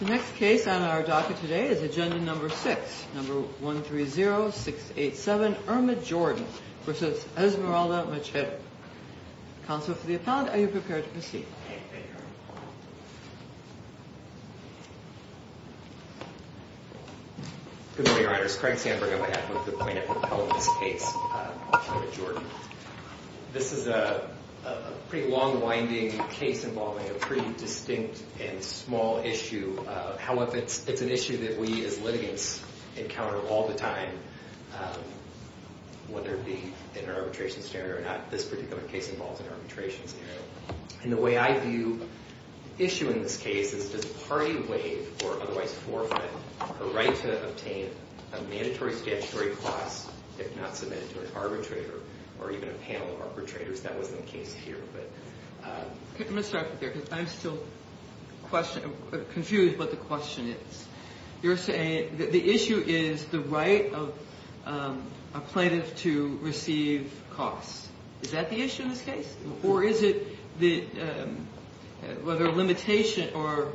The next case on our docket today is agenda number six, number 130687, Irma Jordan v. Esmeralda Macedo. Counsel for the appellant, are you prepared to proceed? Good morning, your honors. Craig Sandberg on behalf of the plaintiff appellant's case, Irma Jordan. This is a pretty long winding case involving a pretty distinct and small issue. However, it's an issue that we as litigants encounter all the time, whether it be in an arbitration scenario or not. This particular case involves an arbitration scenario. And the way I view the issue in this case is, does a party waive or otherwise forfeit the right to obtain a mandatory statutory cost if not submitted to an arbitrator or even a panel of arbitrators? That wasn't the case here. I'm going to start there because I'm still confused what the question is. You're saying that the issue is the right of a plaintiff to receive costs. Is that the issue in this case? Or is it whether a limitation or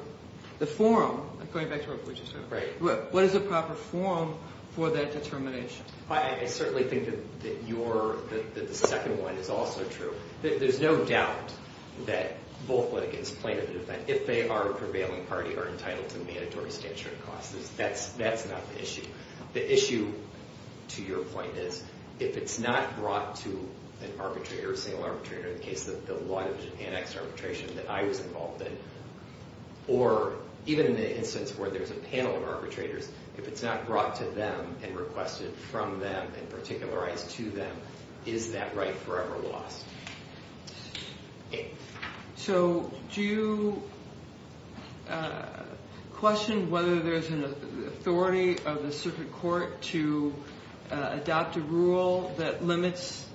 the forum, going back to what we just heard, what is a proper forum for that determination? I certainly think that the second one is also true. There's no doubt that both litigants, plaintiff and defendant, if they are a prevailing party, are entitled to mandatory statutory costs. That's not the issue. The issue, to your point, is if it's not brought to an arbitrator, a single arbitrator, in the case of the law division annex arbitration that I was involved in, or even in the instance where there's a panel of arbitrators, if it's not brought to them and requested from them and particularized to them, is that right forever lost? So do you question whether there's an authority of the circuit court to adopt a rule that limits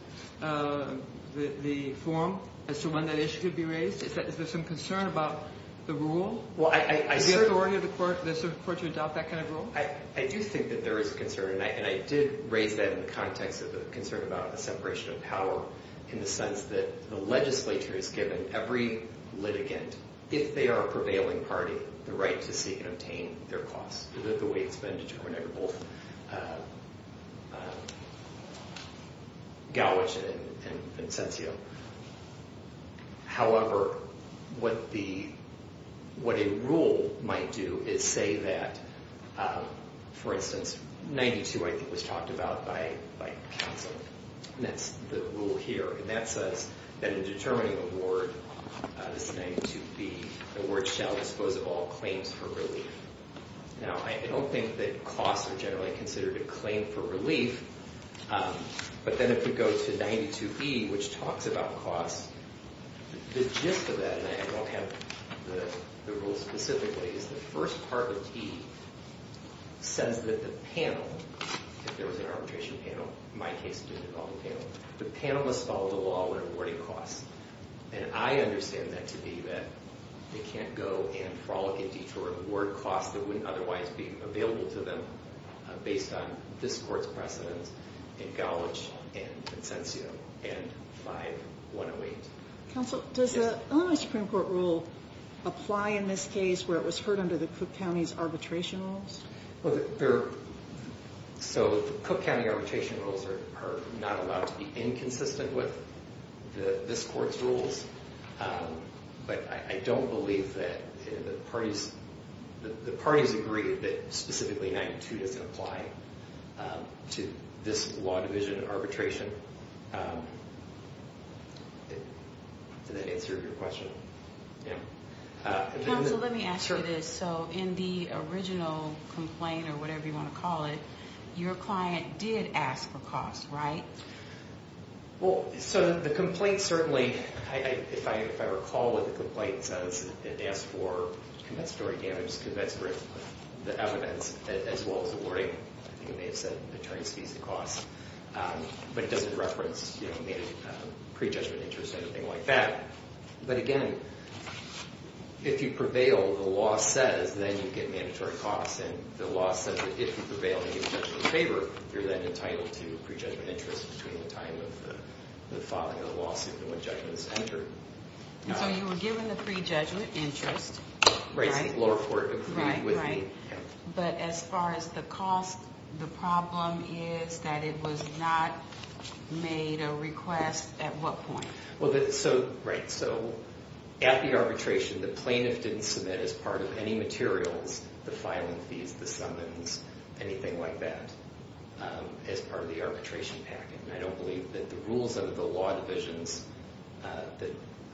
the forum as to when that issue could be raised? Is there some concern about the rule, the authority of the circuit court to adopt that kind of rule? I do think that there is a concern, and I did raise that in the context of the concern about a separation of power in the sense that the legislature has given every litigant, if they are a prevailing party, the right to seek and obtain their costs. The way it's been determined by both Galwitch and Vincenzio. However, what a rule might do is say that, for instance, 92, I think, was talked about by counsel, and that's the rule here. And that says that in determining a ward, this 92B, a ward shall dispose of all claims for relief. Now, I don't think that costs are generally considered a claim for relief. But then if we go to 92B, which talks about costs, the gist of that, and I don't have the rules specifically, is the first part of T says that the panel, if there was an arbitration panel, in my case, a student development panel, the panel must follow the law when awarding costs. And I understand that to be that they can't go and frolic and detour award costs that wouldn't otherwise be available to them based on this court's precedence in Galwitch and Vincenzio and 5108. Counsel, does the Illinois Supreme Court rule apply in this case where it was heard under the Cook County's arbitration rules? So the Cook County arbitration rules are not allowed to be inconsistent with this court's rules. But I don't believe that the parties agreed that specifically 92 doesn't apply to this law division arbitration. Did that answer your question? Counsel, let me ask you this. So in the original complaint, or whatever you want to call it, your client did ask for costs, right? Well, so the complaint certainly, if I recall what the complaint says, it asked for compensatory damages, compensatory evidence, as well as awarding, I think it may have said, attorney's fees and costs. But it doesn't reference pre-judgment interest or anything like that. But again, if you prevail, the law says, then you get mandatory costs. And the law says that if you prevail and get judgment in favor, you're then entitled to pre-judgment interest between the time of the filing of the lawsuit and when judgment is entered. So you were given the pre-judgment interest, right? But as far as the cost, the problem is that it was not made a request at what point? Right. So at the arbitration, the plaintiff didn't submit as part of any materials, the filing fees, the summons, anything like that, as part of the arbitration package. And I don't believe that the rules of the law divisions,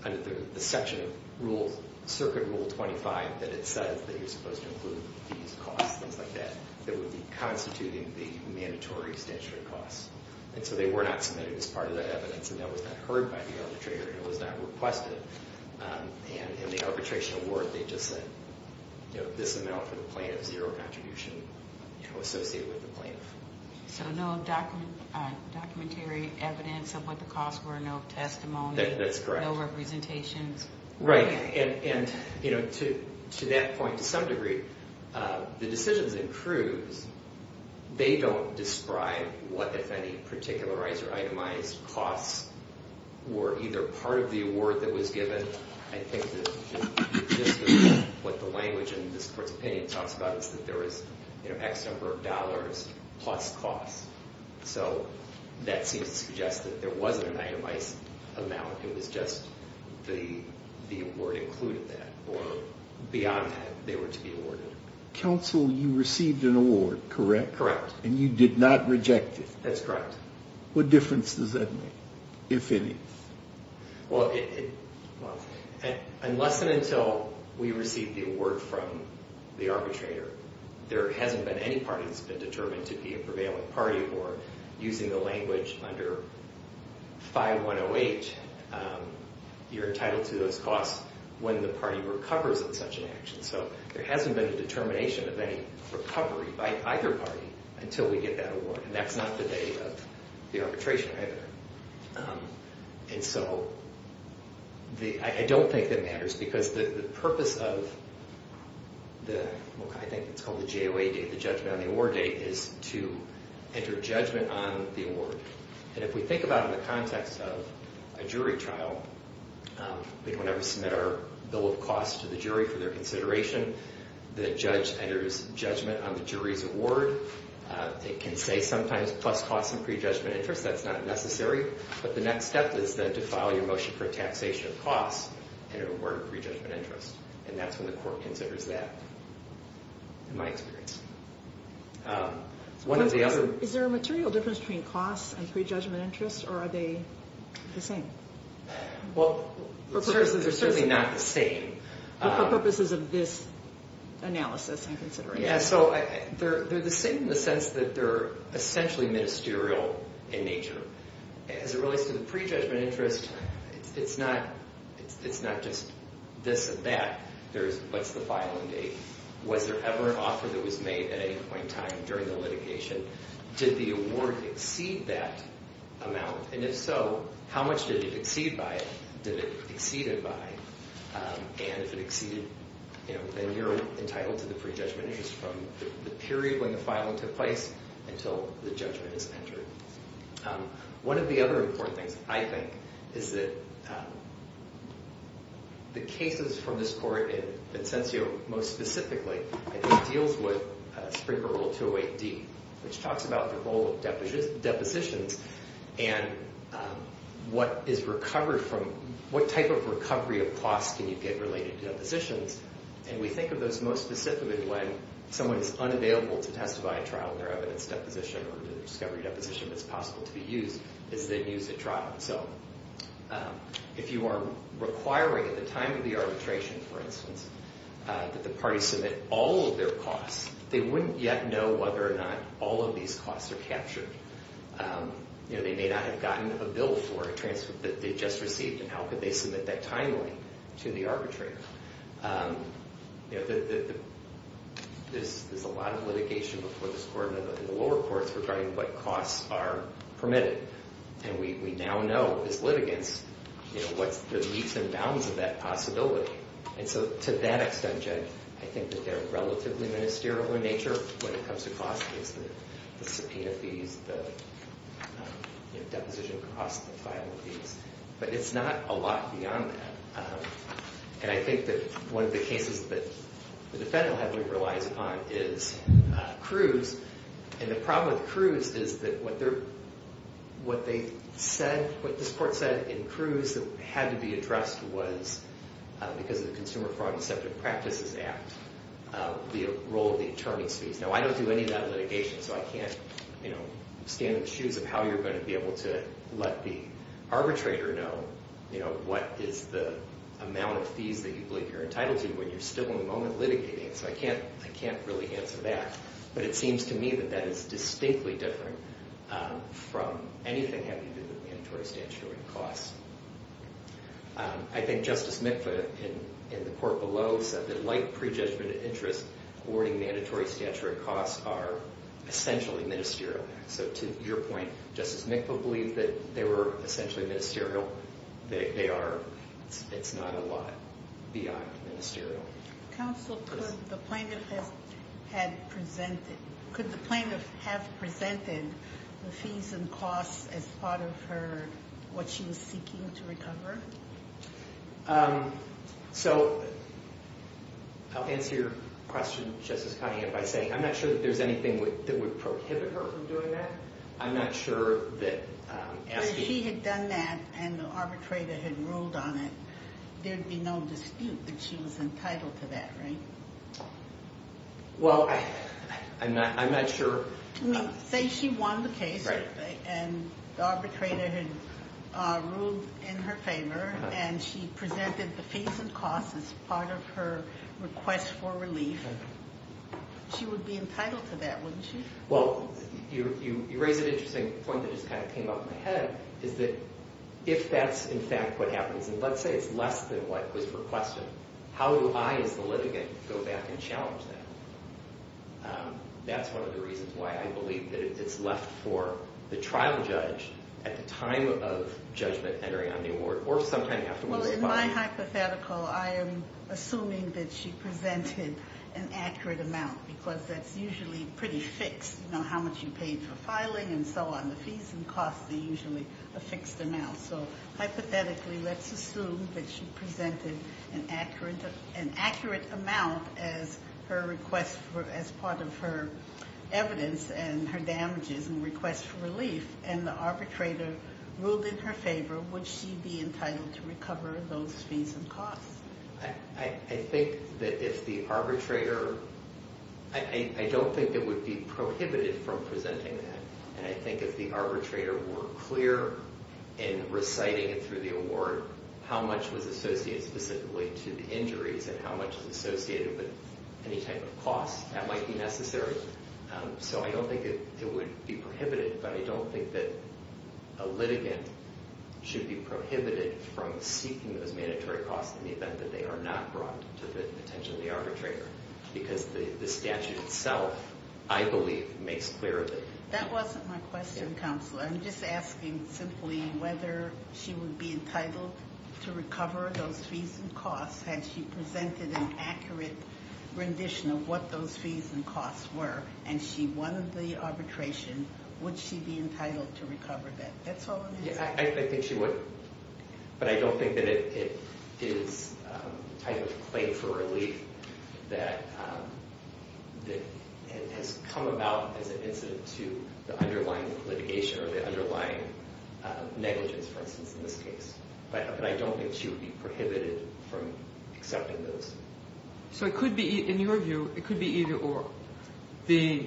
under the section of rules, Circuit Rule 25, that it says that you're supposed to include fees, costs, things like that, that would be constituting the mandatory statute of costs. And so they were not submitted as part of the evidence, and that was not heard by the arbitrator, and it was not requested. And in the arbitration award, they just said, you know, this amount for the plaintiff, zero contribution associated with the plaintiff. So no documentary evidence of what the costs were, no testimony? That's correct. No representations? Right. And, you know, to that point, to some degree, the decisions in Cruz, they don't describe what, if any, particularized or itemized costs were either part of the award that was given. I think that what the language in this Court's opinion talks about is that there is, you know, X number of dollars plus costs. So that seems to suggest that there wasn't an itemized amount. It was just the award included that, or beyond that, they were to be awarded. Counsel, you received an award, correct? Correct. And you did not reject it? That's correct. What difference does that make, if any? Well, unless and until we receive the award from the arbitrator, there hasn't been any party that's been determined to be a prevailing party or, using the language under 5108, you're entitled to those costs when the party recovers in such an action. So there hasn't been a determination of any recovery by either party until we get that award. And that's not the date of the arbitration, either. And so I don't think that matters because the purpose of the, I think it's called the JOA date, the judgment on the award date, is to enter judgment on the award. And if we think about it in the context of a jury trial, we don't ever submit our bill of costs to the jury for their consideration. The judge enters judgment on the jury's award. They can say sometimes plus costs and prejudgment interest. That's not necessary. But the next step is then to file your motion for taxation of costs and an award of prejudgment interest. And that's when the court considers that, in my experience. One of the other... Is there a material difference between costs and prejudgment interest, or are they the same? Well, they're certainly not the same. But for purposes of this analysis and consideration. Yeah, so they're the same in the sense that they're essentially ministerial in nature. As it relates to the prejudgment interest, it's not just this and that. There's what's the filing date? Was there ever an offer that was made at any point in time during the litigation? Did the award exceed that amount? And if so, how much did it exceed by it? Did it exceed it by? And if it exceeded, then you're entitled to the prejudgment interest from the period when the filing took place until the judgment is entered. One of the other important things, I think, is that the cases from this court, and Vincenzio most specifically, deals with Supreme Court Rule 208D, which talks about the role of depositions and what type of recovery of costs can you get related to depositions. And we think of those most specifically when someone is unavailable to testify at trial and their evidence deposition or discovery deposition is possible to be used, is then used at trial. So if you are requiring at the time of the arbitration, for instance, that the parties submit all of their costs, they wouldn't yet know whether or not all of these costs are captured. They may not have gotten a bill for a transfer that they just received, and how could they submit that timely to the arbitrator? There's a lot of litigation before this court and the lower courts regarding what costs are permitted. And we now know as litigants what's the leaps and bounds of that possibility. And so to that extent, Judge, I think that they're relatively ministerial in nature when it comes to costs, the subpoena fees, the deposition costs and filing fees. But it's not a lot beyond that. And I think that one of the cases that the defendant heavily relies upon is Cruz. And the problem with Cruz is that what they said, what this court said in Cruz that had to be addressed was because of the Consumer Fraud and Deceptive Practices Act, the role of the attorney's fees. Now, I don't do any of that litigation, so I can't stand in the shoes of how you're going to be able to let the arbitrator know what is the amount of fees that you believe you're entitled to when you're still in the moment litigating. So I can't really answer that. But it seems to me that that is distinctly different from anything having to do with mandatory statutory costs. I think Justice Mikva in the court below said that like prejudgment of interest, awarding mandatory statutory costs are essentially ministerial. So to your point, Justice Mikva believed that they were essentially ministerial. They are. It's not a lot beyond ministerial. Counsel, could the plaintiff have presented the fees and costs as part of what she was seeking to recover? So I'll answer your question, Justice Conant, by saying I'm not sure that there's anything that would prohibit her from doing that. But if she had done that and the arbitrator had ruled on it, there'd be no dispute that she was entitled to that, right? Well, I'm not sure. Say she won the case and the arbitrator had ruled in her favor and she presented the fees and costs as part of her request for relief. She would be entitled to that, wouldn't she? Well, you raise an interesting point that just kind of came up in my head, is that if that's in fact what happens, and let's say it's less than what was requested, how do I as the litigant go back and challenge that? That's one of the reasons why I believe that it's left for the trial judge at the time of judgment entering on the award, or sometime afterwards. Well, in my hypothetical, I am assuming that she presented an accurate amount, because that's usually pretty fixed. You know, how much you paid for filing and so on. The fees and costs are usually a fixed amount. So hypothetically, let's assume that she presented an accurate amount as part of her evidence and her damages and requests for relief, and the arbitrator ruled in her favor, would she be entitled to recover those fees and costs? I think that if the arbitrator – I don't think it would be prohibited from presenting that. And I think if the arbitrator were clear in reciting it through the award, how much was associated specifically to the injuries and how much was associated with any type of costs, that might be necessary. So I don't think it would be prohibited, but I don't think that a litigant should be prohibited from seeking those mandatory costs in the event that they are not brought to the attention of the arbitrator, because the statute itself, I believe, makes clear that. That wasn't my question, Counselor. I'm just asking simply whether she would be entitled to recover those fees and costs had she presented an accurate rendition of what those fees and costs were, and she won the arbitration. Would she be entitled to recover that? That's all I'm asking. I think she would, but I don't think that it is a type of claim for relief that has come about as an incident to the underlying litigation or the underlying negligence, for instance, in this case. But I don't think she would be prohibited from accepting those. So it could be, in your view, it could be either or. The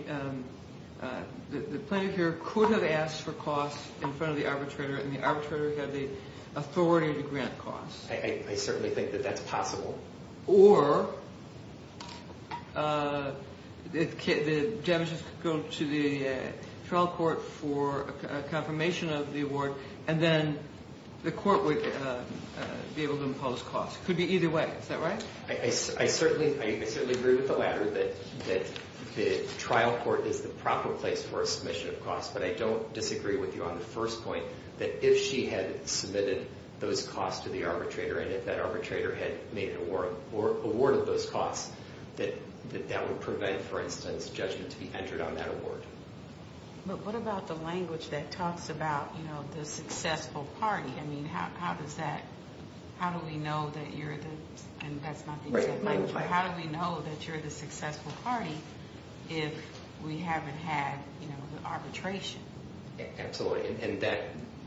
plaintiff here could have asked for costs in front of the arbitrator, and the arbitrator had the authority to grant costs. I certainly think that that's possible. Or the damages could go to the trial court for a confirmation of the award, and then the court would be able to impose costs. It could be either way. Is that right? I certainly agree with the latter, that the trial court is the proper place for a submission of costs. But I don't disagree with you on the first point, that if she had submitted those costs to the arbitrator and if that arbitrator had made an award or awarded those costs, that that would prevent, for instance, judgment to be entered on that award. But what about the language that talks about, you know, the successful party? I mean, how does that, how do we know that you're the, and that's not being said by the plaintiff. How do we know that you're the successful party if we haven't had, you know, the arbitration? Absolutely, and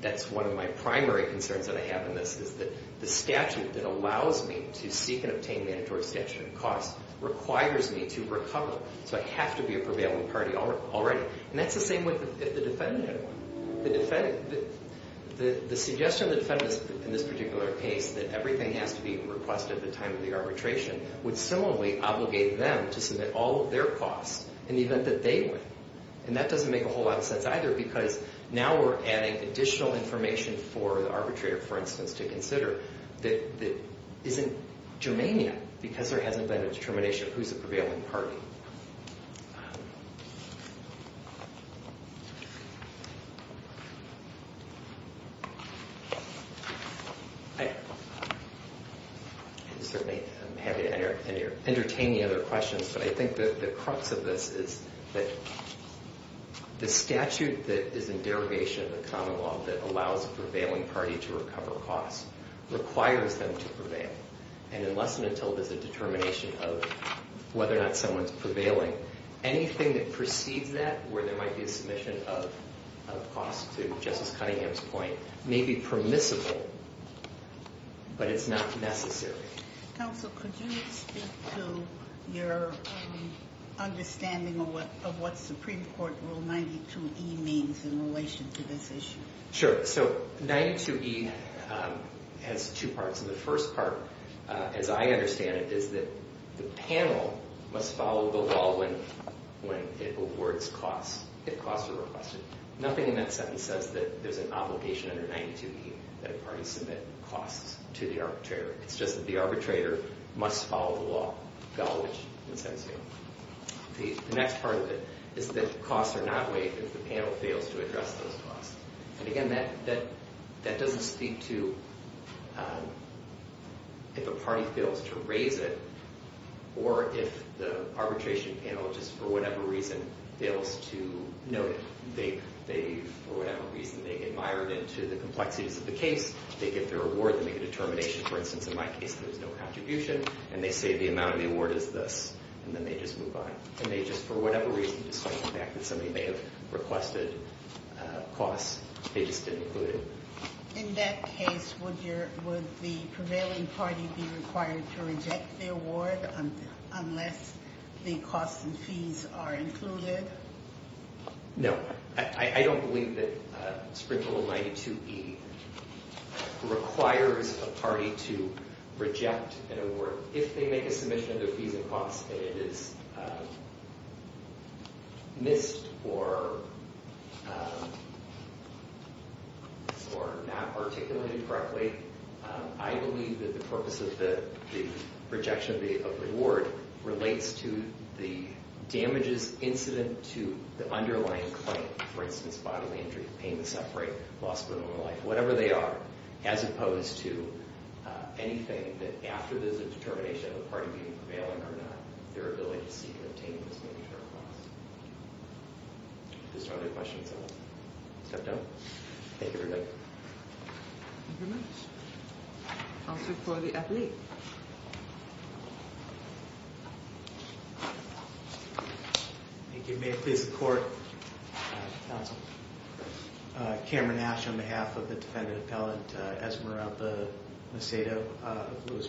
that's one of my primary concerns that I have in this, is that the statute that allows me to seek and obtain mandatory statute of costs requires me to recover. So I have to be a prevailing party already. And that's the same with the defendant. The suggestion of the defendant in this particular case that everything has to be requested at the time of the arbitration would similarly obligate them to submit all of their costs in the event that they win. And that doesn't make a whole lot of sense either because now we're adding additional information for the arbitrator, for instance, to consider that isn't germania because there hasn't been a determination of who's a prevailing party. I certainly am happy to entertain any other questions, but I think that the crux of this is that the statute that is in derogation of the common law that allows a prevailing party to recover costs requires them to prevail. And unless and until there's a determination of whether or not someone's prevailing, anything that precedes that where there might be a submission of costs to Justice Cunningham's point may be permissible, but it's not necessary. Counsel, could you speak to your understanding of what Supreme Court Rule 92E means in relation to this issue? Sure. So 92E has two parts. And the first part, as I understand it, is that the panel must follow the law when it awards costs, if costs are requested. Nothing in that sentence says that there's an obligation under 92E that a party submit costs to the arbitrator. It's just that the arbitrator must follow the law. The next part of it is that costs are not waived if the panel fails to address those costs. And again, that doesn't speak to if a party fails to raise it or if the arbitration panel just for whatever reason fails to note it. They, for whatever reason, they get mired into the complexities of the case. They give their award. They make a determination. For instance, in my case, there was no contribution. And they say the amount of the award is this. And then they just move on. And they just, for whatever reason, just come back that somebody may have requested costs. They just didn't include it. In that case, would the prevailing party be required to reject the award unless the costs and fees are included? No. I don't believe that Supreme Court Rule 92E requires a party to reject an award. If they make a submission of their fees and costs and it is missed or not articulated correctly, I believe that the purpose of the rejection of the award relates to the damages incident to the underlying claim. For instance, bodily injury, pain, the suffering, loss of a life, whatever they are, as opposed to anything that after there's a determination of the party being prevailing or not, their ability to seek and obtain this monetary cost. If there's no other questions, I'll step down. Thank you, everybody. Thank you very much. Counsel for the athlete. Thank you. May it please the Court. Counsel. Cameron Nash on behalf of the Defendant Appellant, Esmeralda Macedo, Louis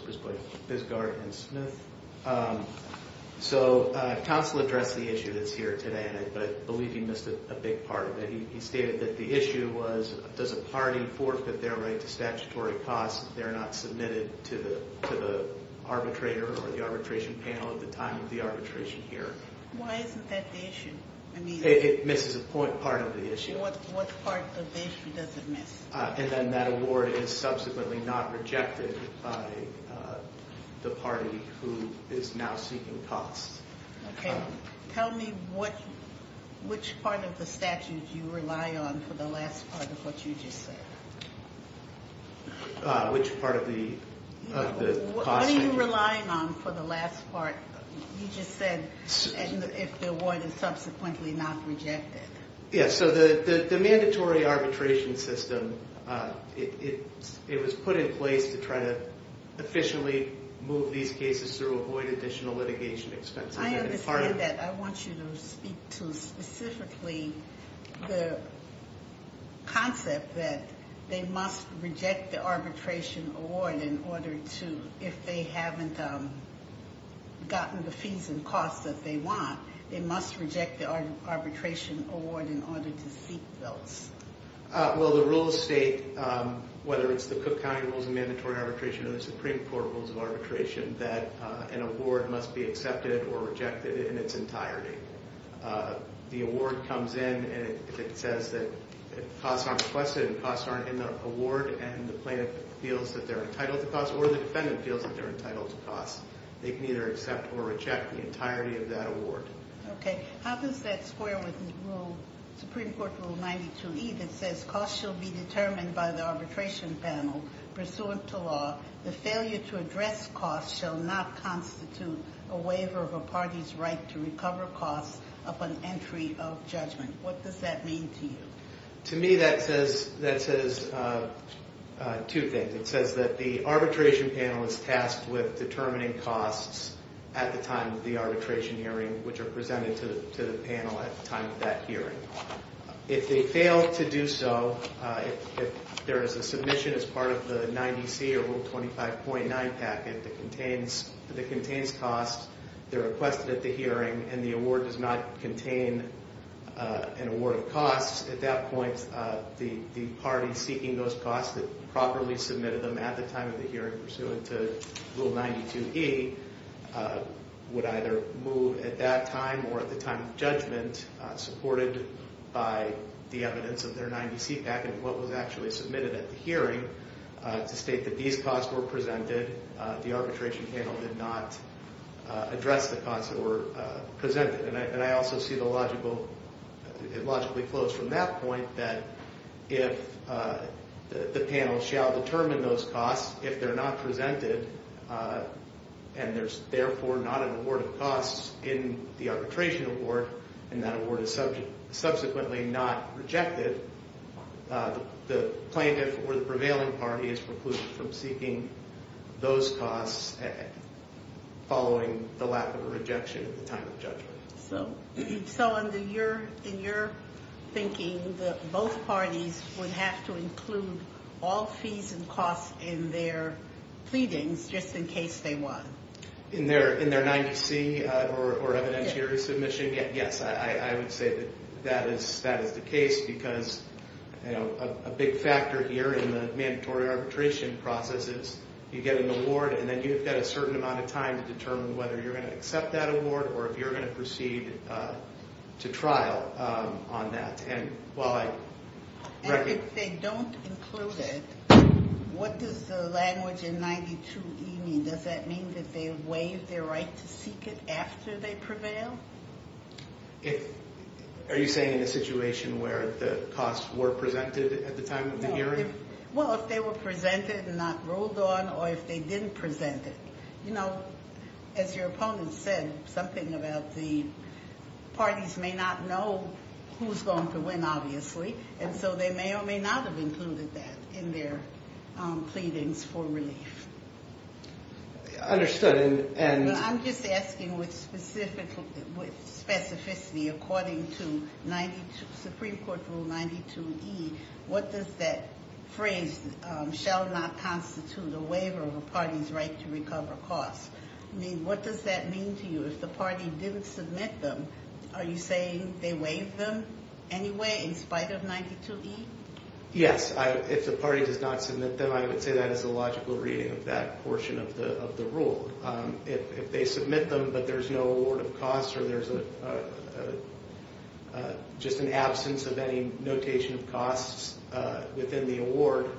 Bisgard, and Smith. So counsel addressed the issue that's here today, and I believe he missed a big part of it. He stated that the issue was, does a party forfeit their right to statutory costs if they're not submitted to the arbitrator or the arbitration panel at the time of the arbitration here? Why isn't that the issue? It misses a part of the issue. What part of the issue does it miss? And then that award is subsequently not rejected by the party who is now seeking costs. Okay. Tell me which part of the statute you rely on for the last part of what you just said. Which part of the cost? What are you relying on for the last part? You just said if the award is subsequently not rejected. Yes, so the mandatory arbitration system, it was put in place to try to efficiently move these cases through, avoid additional litigation expenses. I understand that. I want you to speak to specifically the concept that they must reject the arbitration award in order to, if they haven't gotten the fees and costs that they want, they must reject the arbitration award in order to seek those. Well, the rules state, whether it's the Cook County Rules of Mandatory Arbitration or the Supreme Court Rules of Arbitration, that an award must be accepted or rejected in its entirety. The award comes in, and if it says that costs aren't requested and costs aren't in the award, and the plaintiff feels that they're entitled to costs or the defendant feels that they're entitled to costs, they can either accept or reject the entirety of that award. Okay. How does that square with the Supreme Court Rule 92E that says, costs shall be determined by the arbitration panel pursuant to law. The failure to address costs shall not constitute a waiver of a party's right to recover costs upon entry of judgment. What does that mean to you? To me, that says two things. It says that the arbitration panel is tasked with determining costs at the time of the arbitration hearing, which are presented to the panel at the time of that hearing. If they fail to do so, if there is a submission as part of the 90C or Rule 25.9 packet that contains costs, they're requested at the hearing, and the award does not contain an award of costs, at that point the party seeking those costs that properly submitted them at the time of the hearing pursuant to Rule 92E would either move at that time or at the time of judgment supported by the evidence of their 90C packet and what was actually submitted at the hearing to state that these costs were presented, the arbitration panel did not address the costs that were presented. And I also see the logical, it logically flows from that point that if the panel shall determine those costs, if they're not presented, and there's therefore not an award of costs in the arbitration award, and that award is subsequently not rejected, the plaintiff or the prevailing party is precluded from seeking those costs following the lack of a rejection at the time of judgment. So in your thinking, both parties would have to include all fees and costs in their pleadings just in case they won. In their 90C or evidentiary submission, yes, I would say that that is the case, because a big factor here in the mandatory arbitration process is you get an award, and then you've got a certain amount of time to determine whether you're going to accept that award or if you're going to proceed to trial on that. And while I... And if they don't include it, what does the language in 92E mean? Does that mean that they waive their right to seek it after they prevail? Are you saying in a situation where the costs were presented at the time of the hearing? Well, if they were presented and not ruled on, or if they didn't present it. You know, as your opponent said, something about the parties may not know who's going to win, obviously, and so they may or may not have included that in their pleadings for relief. Understood, and... I'm just asking with specificity, according to Supreme Court Rule 92E, what does that phrase, shall not constitute a waiver of a party's right to recover costs, mean? What does that mean to you? If the party didn't submit them, are you saying they waive them anyway in spite of 92E? Yes, if the party does not submit them, I would say that is a logical reading of that portion of the rule. If they submit them but there's no award of costs or there's just an absence of any notation of costs within the award,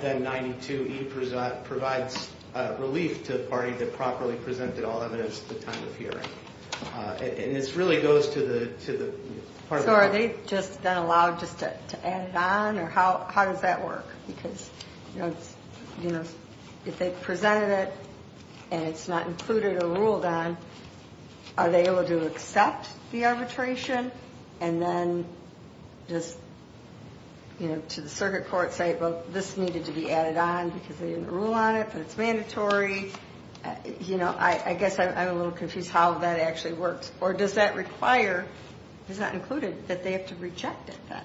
then 92E provides relief to the party that properly presented all evidence at the time of hearing. And this really goes to the part of the... So are they just allowed just to add it on, or how does that work? Because, you know, if they presented it and it's not included or ruled on, are they able to accept the arbitration and then just, you know, to the circuit court say, well, this needed to be added on because they didn't rule on it but it's mandatory? You know, I guess I'm a little confused how that actually works. Or does that require, it's not included, that they have to reject it then?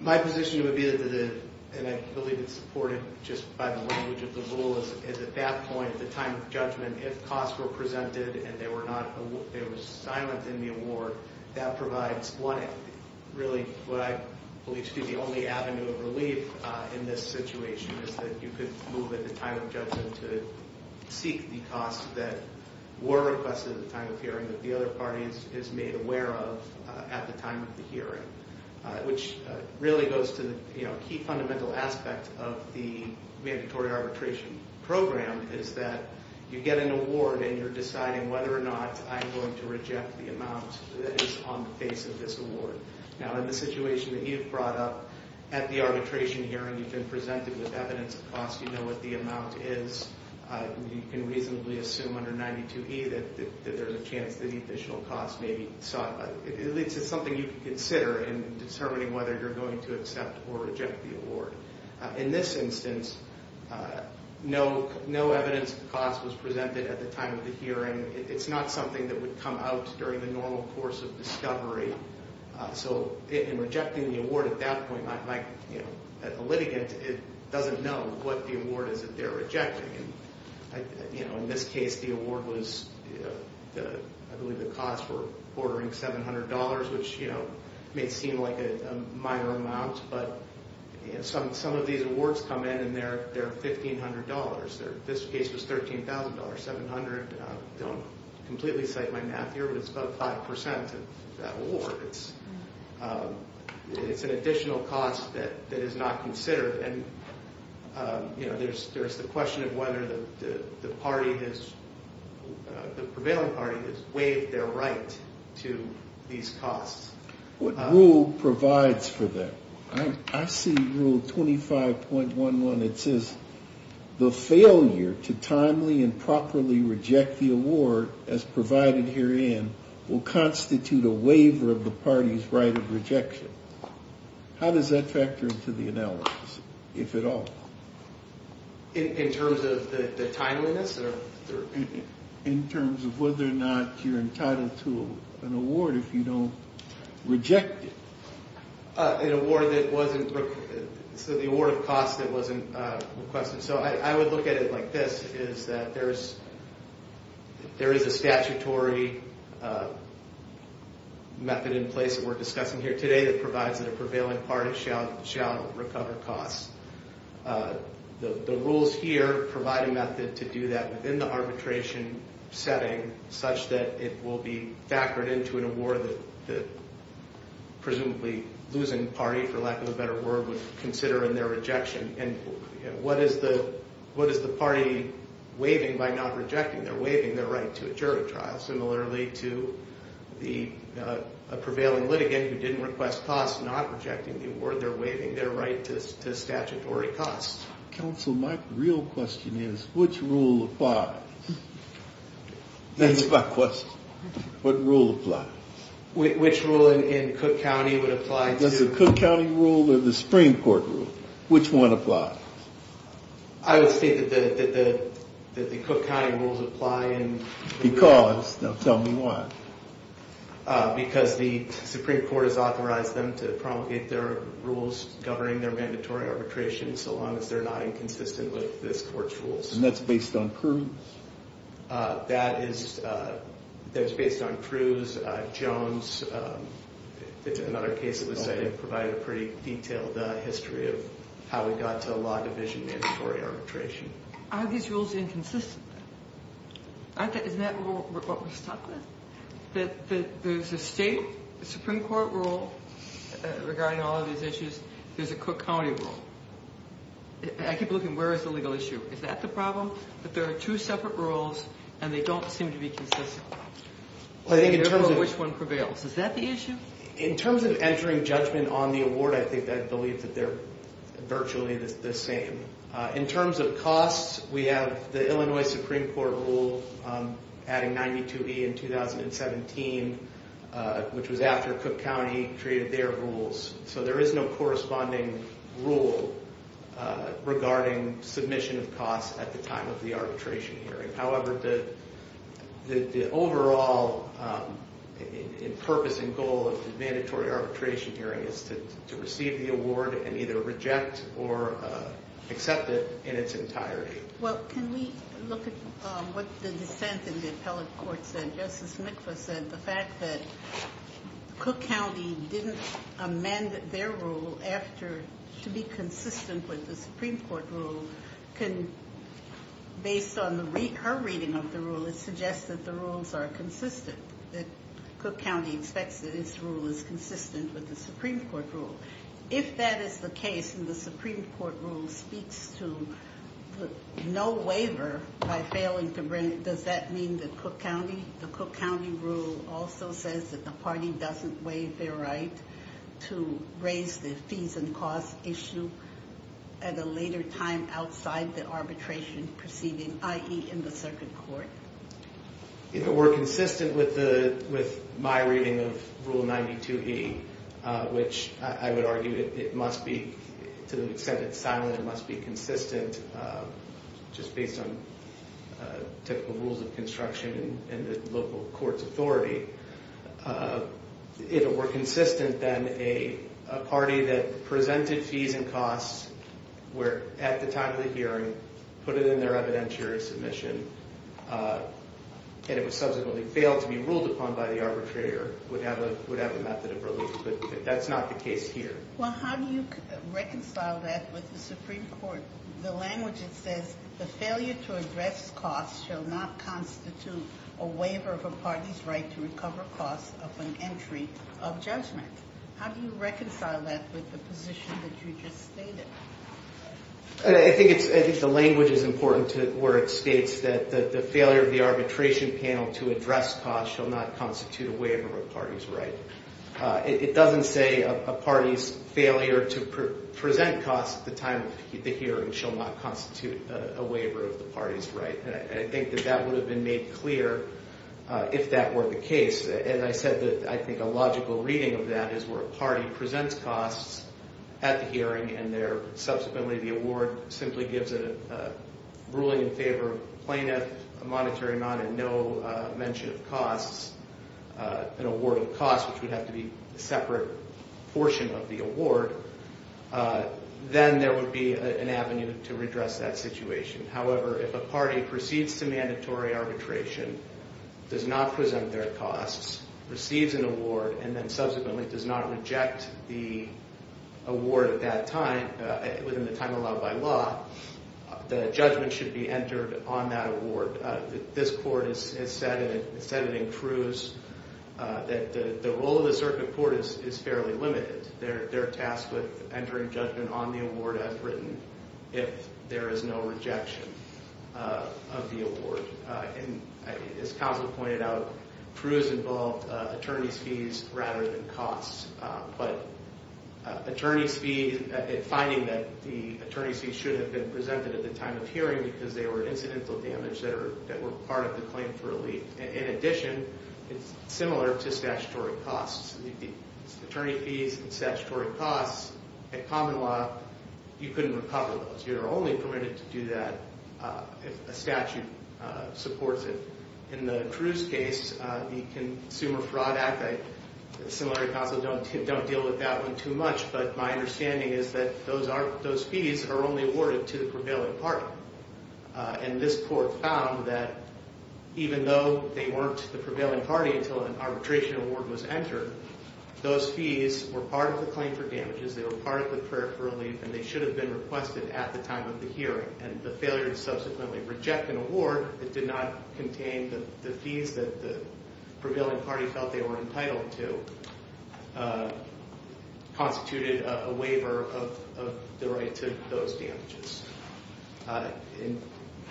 My position would be that, and I believe it's supported just by the language of the rule, is at that point, the time of judgment, if costs were presented and they were silent in the award, that provides what I believe to be the only avenue of relief in this situation is that you could move at the time of judgment to seek the costs that were requested at the time of hearing that the other party is made aware of at the time of the hearing. Which really goes to the key fundamental aspect of the mandatory arbitration program is that you get an award and you're deciding whether or not I'm going to reject the amount that is on the face of this award. Now in the situation that you've brought up, at the arbitration hearing you've been presented with evidence of costs, you know what the amount is, you can reasonably assume under 92E that there's a chance that the additional costs may be sought. At least it's something you can consider in determining whether you're going to accept or reject the award. In this instance, no evidence of costs was presented at the time of the hearing. It's not something that would come out during the normal course of discovery. So in rejecting the award at that point, a litigant doesn't know what the award is that they're rejecting. In this case the award was, I believe the costs were ordering $700, which may seem like a minor amount, but some of these awards come in and they're $1,500. This case was $13,000, $700. I don't completely cite my math here, but it's about 5% of that award. It's an additional cost that is not considered. And there's the question of whether the prevailing party has waived their right to these costs. What rule provides for that? I see Rule 25.11. It says, The failure to timely and properly reject the award as provided herein will constitute a waiver of the party's right of rejection. How does that factor into the analysis, if at all? In terms of the tideliness? In terms of whether or not you're entitled to an award if you don't reject it. An award that wasn't requested. So the award of costs that wasn't requested. So I would look at it like this, is that there is a statutory method in place that we're discussing here today that provides that a prevailing party shall recover costs. The rules here provide a method to do that within the arbitration setting such that it will be factored into an award that the presumably losing party, for lack of a better word, would consider in their rejection. And what is the party waiving by not rejecting? They're waiving their right to a jury trial. Similarly to a prevailing litigant who didn't request costs, not rejecting the award, they're waiving their right to statutory costs. Counsel, my real question is, which rule applies? That's my question. What rule applies? Which rule in Cook County would apply? Does the Cook County rule or the Supreme Court rule? Which one applies? I would say that the Cook County rules apply. Because? Now tell me why. Because the Supreme Court has authorized them to promulgate their rules governing their mandatory arbitration so long as they're not inconsistent with this court's rules. And that's based on Cruz? That is based on Cruz. Jones, another case that was cited, provided a pretty detailed history of how we got to a law division mandatory arbitration. Are these rules inconsistent? Isn't that what we're stuck with? That there's a state Supreme Court rule regarding all of these issues. There's a Cook County rule. I keep looking, where is the legal issue? Is that the problem? That there are two separate rules and they don't seem to be consistent. I think in terms of... Which one prevails. Is that the issue? In terms of entering judgment on the award, I think I believe that they're virtually the same. In terms of costs, we have the Illinois Supreme Court rule adding 92E in 2017, which was after Cook County created their rules. So there is no corresponding rule regarding submission of costs at the time of the arbitration hearing. However, the overall purpose and goal of the mandatory arbitration hearing is to receive the award and either reject or accept it in its entirety. Well, can we look at what the dissent in the appellate court said? Justice Mikva said the fact that Cook County didn't amend their rule to be consistent with the Supreme Court rule. Based on her reading of the rule, it suggests that the rules are consistent. Cook County expects that its rule is consistent with the Supreme Court rule. If that is the case and the Supreme Court rule speaks to no waiver by failing to bring... Does that mean that Cook County... The Cook County rule also says that the party doesn't waive their right to raise the fees and costs issue at a later time outside the arbitration proceeding, i.e. in the circuit court. If it were consistent with my reading of Rule 92E, which I would argue it must be to the extent it's silent, it must be consistent just based on typical rules of construction and the local court's authority. If it were consistent, then a party that presented fees and costs at the time of the hearing, put it in their evidentiary submission, and it was subsequently failed to be ruled upon by the arbitrator, would have a method of relief, but that's not the case here. Well, how do you reconcile that with the Supreme Court? The language, it says, the failure to address costs shall not constitute a waiver of a party's right to recover costs upon entry of judgment. How do you reconcile that with the position that you just stated? I think the language is important where it states that the failure of the arbitration panel to address costs shall not constitute a waiver of a party's right. It doesn't say a party's failure to present costs at the time of the hearing shall not constitute a waiver of the party's right. And I think that that would have been made clear if that were the case. And I said that I think a logical reading of that is where a party presents costs at the hearing and subsequently the award simply gives a ruling in favor of plaintiff, a monetary amount, and no mention of costs, an award of costs, which would have to be a separate portion of the award, then there would be an avenue to redress that situation. However, if a party proceeds to mandatory arbitration, does not present their costs, receives an award, and then subsequently does not reject the award at that time, within the time allowed by law, the judgment should be entered on that award. This court has said, and it said it in Cruz, that the role of the circuit court is fairly limited. They're tasked with entering judgment on the award as written if there is no rejection of the award. And as counsel pointed out, Cruz involved attorneys' fees rather than costs. But attorneys' fees, finding that the attorneys' fees should have been presented at the time of hearing because they were incidental damage that were part of the claim for relief. In addition, it's similar to statutory costs. The attorney fees and statutory costs at common law, you couldn't recover those. You're only permitted to do that if a statute supports it. In the Cruz case, the Consumer Fraud Act, similar counsel don't deal with that one too much, but my understanding is that those fees are only awarded to the prevailing party. And this court found that even though they weren't the prevailing party until an arbitration award was entered, those fees were part of the claim for damages, they were part of the prayer for relief, and they should have been requested at the time of the hearing. And the failure to subsequently reject an award that did not contain the fees that the prevailing party felt they were entitled to constituted a waiver of the right to those damages. And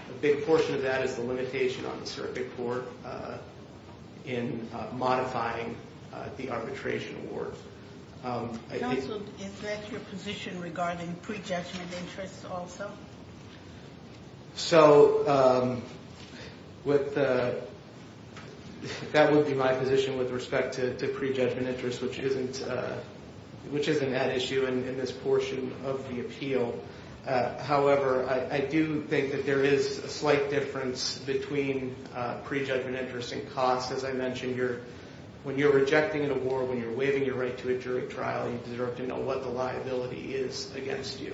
a big portion of that is the limitation on the surrogate court in modifying the arbitration award. Counsel, is that your position regarding pre-judgment interests also? So that would be my position with respect to pre-judgment interests, which isn't an issue in this portion of the appeal. However, I do think that there is a slight difference between pre-judgment interests and costs. As I mentioned, when you're rejecting an award, when you're waiving your right to a jury trial, you deserve to know what the liability is against you.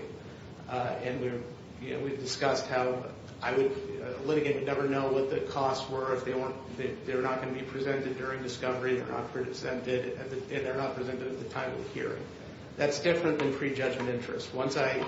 And we've discussed how a litigant would never know what the costs were if they're not going to be presented during discovery, they're not presented at the time of the hearing. That's different than pre-judgment interests. Once a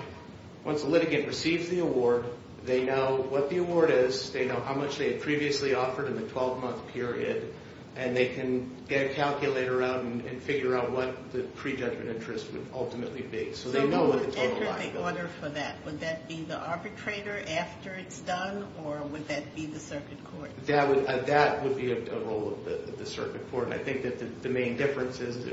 litigant receives the award, they know what the award is, they know how much they had previously offered in the 12-month period, and they can get a calculator out and figure out what the pre-judgment interest would ultimately be. So who would enter the order for that? Would that be the arbitrator after it's done, or would that be the circuit court? That would be a role of the circuit court. I think that the main difference is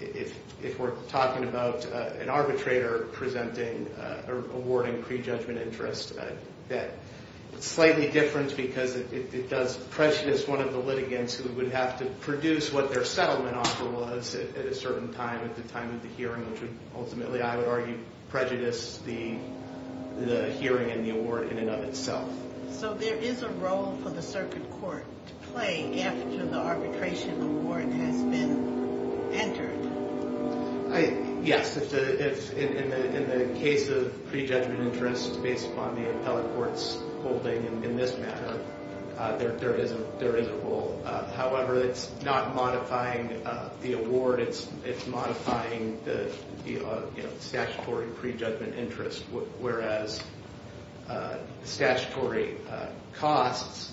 if we're talking about an arbitrator presenting or awarding pre-judgment interests, that it's slightly different because it does prejudice one of the litigants who would have to produce what their settlement offer was at a certain time at the time of the hearing, which would ultimately, I would argue, prejudice the hearing and the award in and of itself. So there is a role for the circuit court to play after the arbitration award has been entered? Yes. In the case of pre-judgment interests based upon the appellate court's holding in this matter, there is a role. However, it's not modifying the award. It's modifying the statutory pre-judgment interest, whereas statutory costs,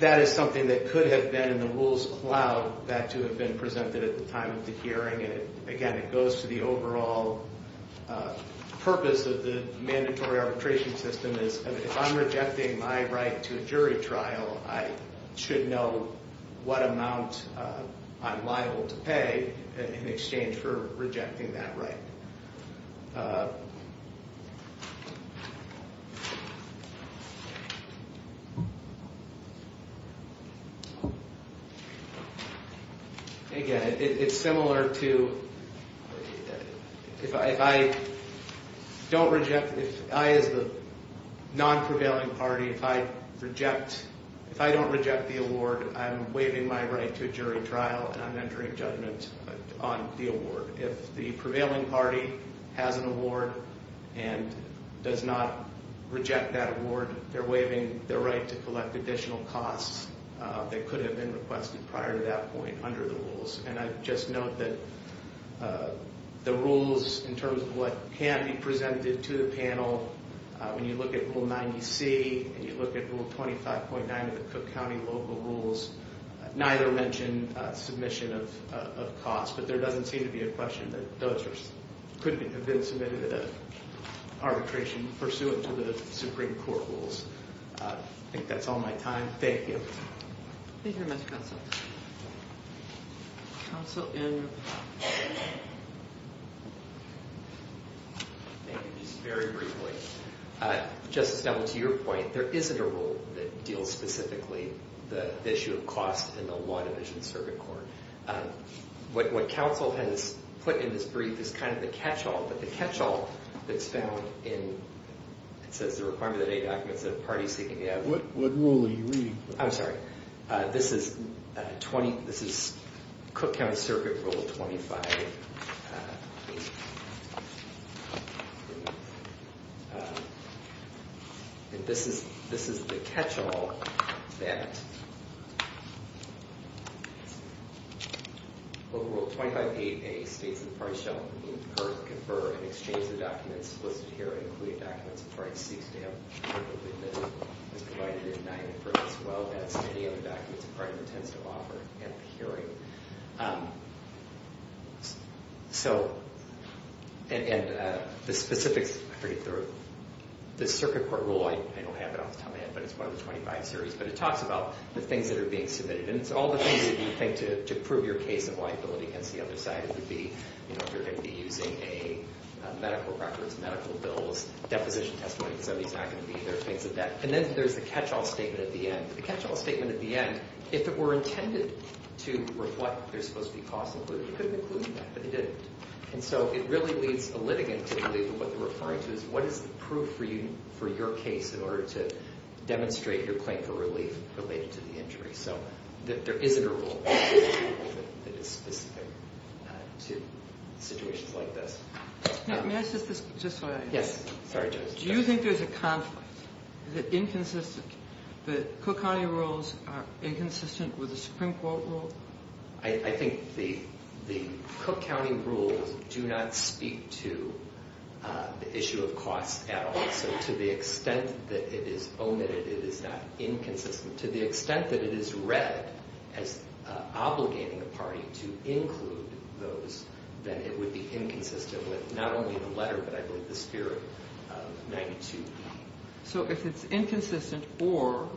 that is something that could have been in the rules of cloud, that to have been presented at the time of the hearing. And again, it goes to the overall purpose of the mandatory arbitration system. If I'm rejecting my right to a jury trial, I should know what amount I'm liable to pay in exchange for rejecting that right. Again, it's similar to if I don't reject, if I as the non-prevailing party, if I reject, if I don't reject the award, I'm waiving my right to a jury trial and I'm entering judgment on the award. If the prevailing party has an award and does not reject that award, they're waiving their right to collect additional costs that could have been requested prior to that point under the rules. And I just note that the rules in terms of what can be presented to the panel, when you look at Rule 90C and you look at Rule 25.9 of the Cook County local rules, neither mention submission of costs. But there doesn't seem to be a question that those could have been submitted at arbitration pursuant to the Supreme Court rules. I think that's all my time. Thank you. Thank you, Mr. Counsel. Counsel Andrew? Thank you. Just very briefly, Justice Dunwoody, to your point, there isn't a rule that deals specifically the issue of cost in the Law Division Circuit Court. What counsel has put in this brief is kind of the catch-all. But the catch-all that's found in, it says, the requirement of the day documents that a party seeking to have- What rule are you reading? I'm sorry. This is Cook County Circuit Rule 25. And this is the catch-all that Rule 25.8A states that the parties shall confer and exchange the documents listed here, including documents a party seeks to have publicly admitted, as provided in 9.1 as well as any other documents a party intends to offer at a hearing. So, and the specifics, I forget the- The Circuit Court rule, I don't have it off the top of my head, but it's part of the 25 series. But it talks about the things that are being submitted. And it's all the things that you think to prove your case of liability against the other side. It could be, you know, if you're going to be using a medical records, medical bills, deposition testimony. Some of these are not going to be there. And then there's the catch-all statement at the end. The catch-all statement at the end, if it were intended to reflect what they're supposed to be cost-included, it could have included that. But it didn't. And so it really leads a litigant to believe that what they're referring to is what is the proof for your case in order to demonstrate your claim for relief related to the injury. So there isn't a rule that is specific to situations like this. May I ask just one other thing? Yes. Sorry, Joyce. Do you think there's a conflict? Is it inconsistent that Cook County rules are inconsistent with the Supreme Court rule? I think the Cook County rules do not speak to the issue of cost at all. So to the extent that it is omitted, it is not inconsistent. To the extent that it is read as obligating a party to include those, then it would be inconsistent with not only the letter but I believe the spirit of 92E. So if it's inconsistent or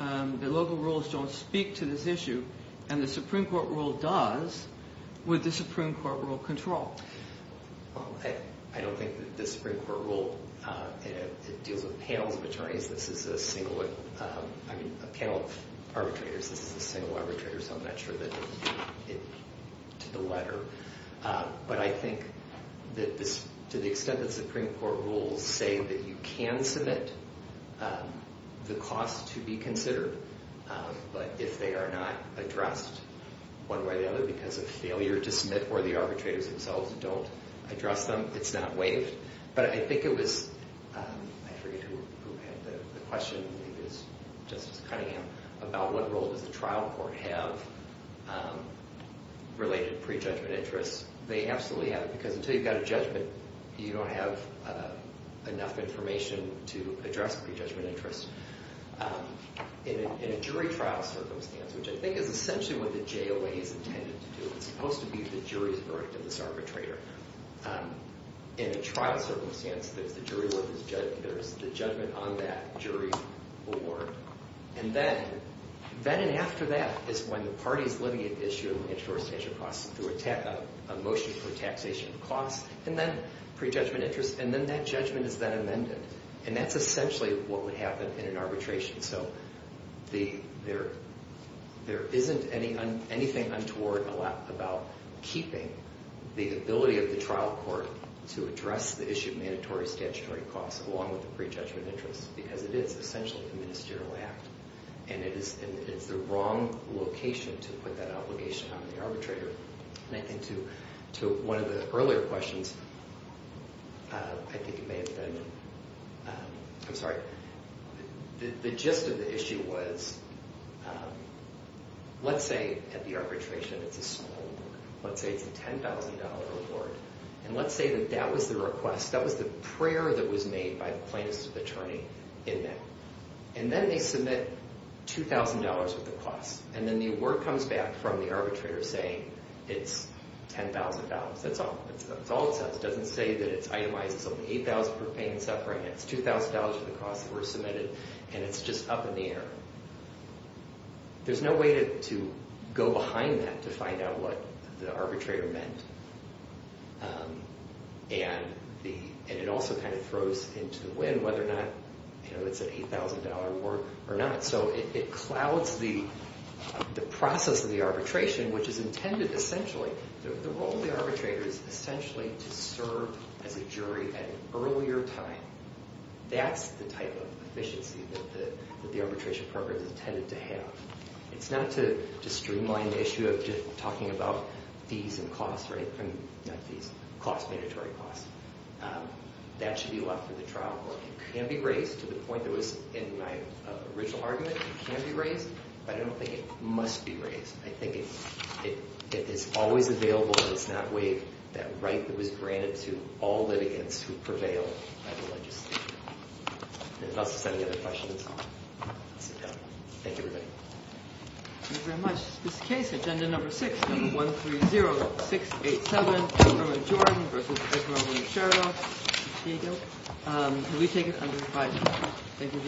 the local rules don't speak to this issue and the Supreme Court rule does, would the Supreme Court rule control? I don't think that the Supreme Court rule deals with panels of attorneys. This is a panel of arbitrators. This is a single arbitrator, so I'm not sure that it's to the letter. But I think that to the extent that Supreme Court rules say that you can submit the cost to be considered, but if they are not addressed one way or the other because of failure to submit or the arbitrators themselves don't address them, it's not waived. But I think it was, I forget who had the question, I think it was Justice Cunningham, about what role does the trial court have related pre-judgment interest. They absolutely have it because until you've got a judgment, you don't have enough information to address pre-judgment interest. In a jury trial circumstance, which I think is essentially what the JOA is intended to do, it's supposed to be the jury's verdict of this arbitrator. In a trial circumstance, there's the judgment on that jury board. And then, then and after that is when the party is looking at the issue of land source taxation costs through a motion for taxation costs, and then pre-judgment interest, and then that judgment is then amended. And that's essentially what would happen in an arbitration. So there isn't anything untoward about keeping the ability of the trial court to address the issue of mandatory statutory costs along with the pre-judgment interest because it is essentially a ministerial act, and it's the wrong location to put that obligation on the arbitrator. And to one of the earlier questions, I think it may have been, I'm sorry, the gist of the issue was, let's say at the arbitration, it's a small award. Let's say it's a $10,000 award, and let's say that that was the request, that was the prayer that was made by the plaintiff's attorney in that. And then they submit $2,000 worth of costs. And then the award comes back from the arbitrator saying it's $10,000. That's all it says. It doesn't say that it's itemized. It's only $8,000 per pain and suffering. It's $2,000 worth of costs that were submitted, and it's just up in the air. There's no way to go behind that to find out what the arbitrator meant. And it also kind of throws into the wind whether or not it's an $8,000 award or not. So it clouds the process of the arbitration, which is intended essentially, the role of the arbitrator is essentially to serve as a jury at an earlier time. That's the type of efficiency that the arbitration program is intended to have. It's not to streamline the issue of just talking about fees and costs, right? I mean, not fees. Costs, mandatory costs. That should be left for the trial court. It can be raised to the point that was in my original argument. It can be raised, but I don't think it must be raised. I think it is always available, and it's not waived, that right that was granted to all litigants who prevail by the legislature. There's lots of other questions. Thank you, everybody. Thank you very much. This case, Agenda Number 6, Number 130687, Herman Jordan v. Esmeralda Sheridan. We take it under review. Thank you very much.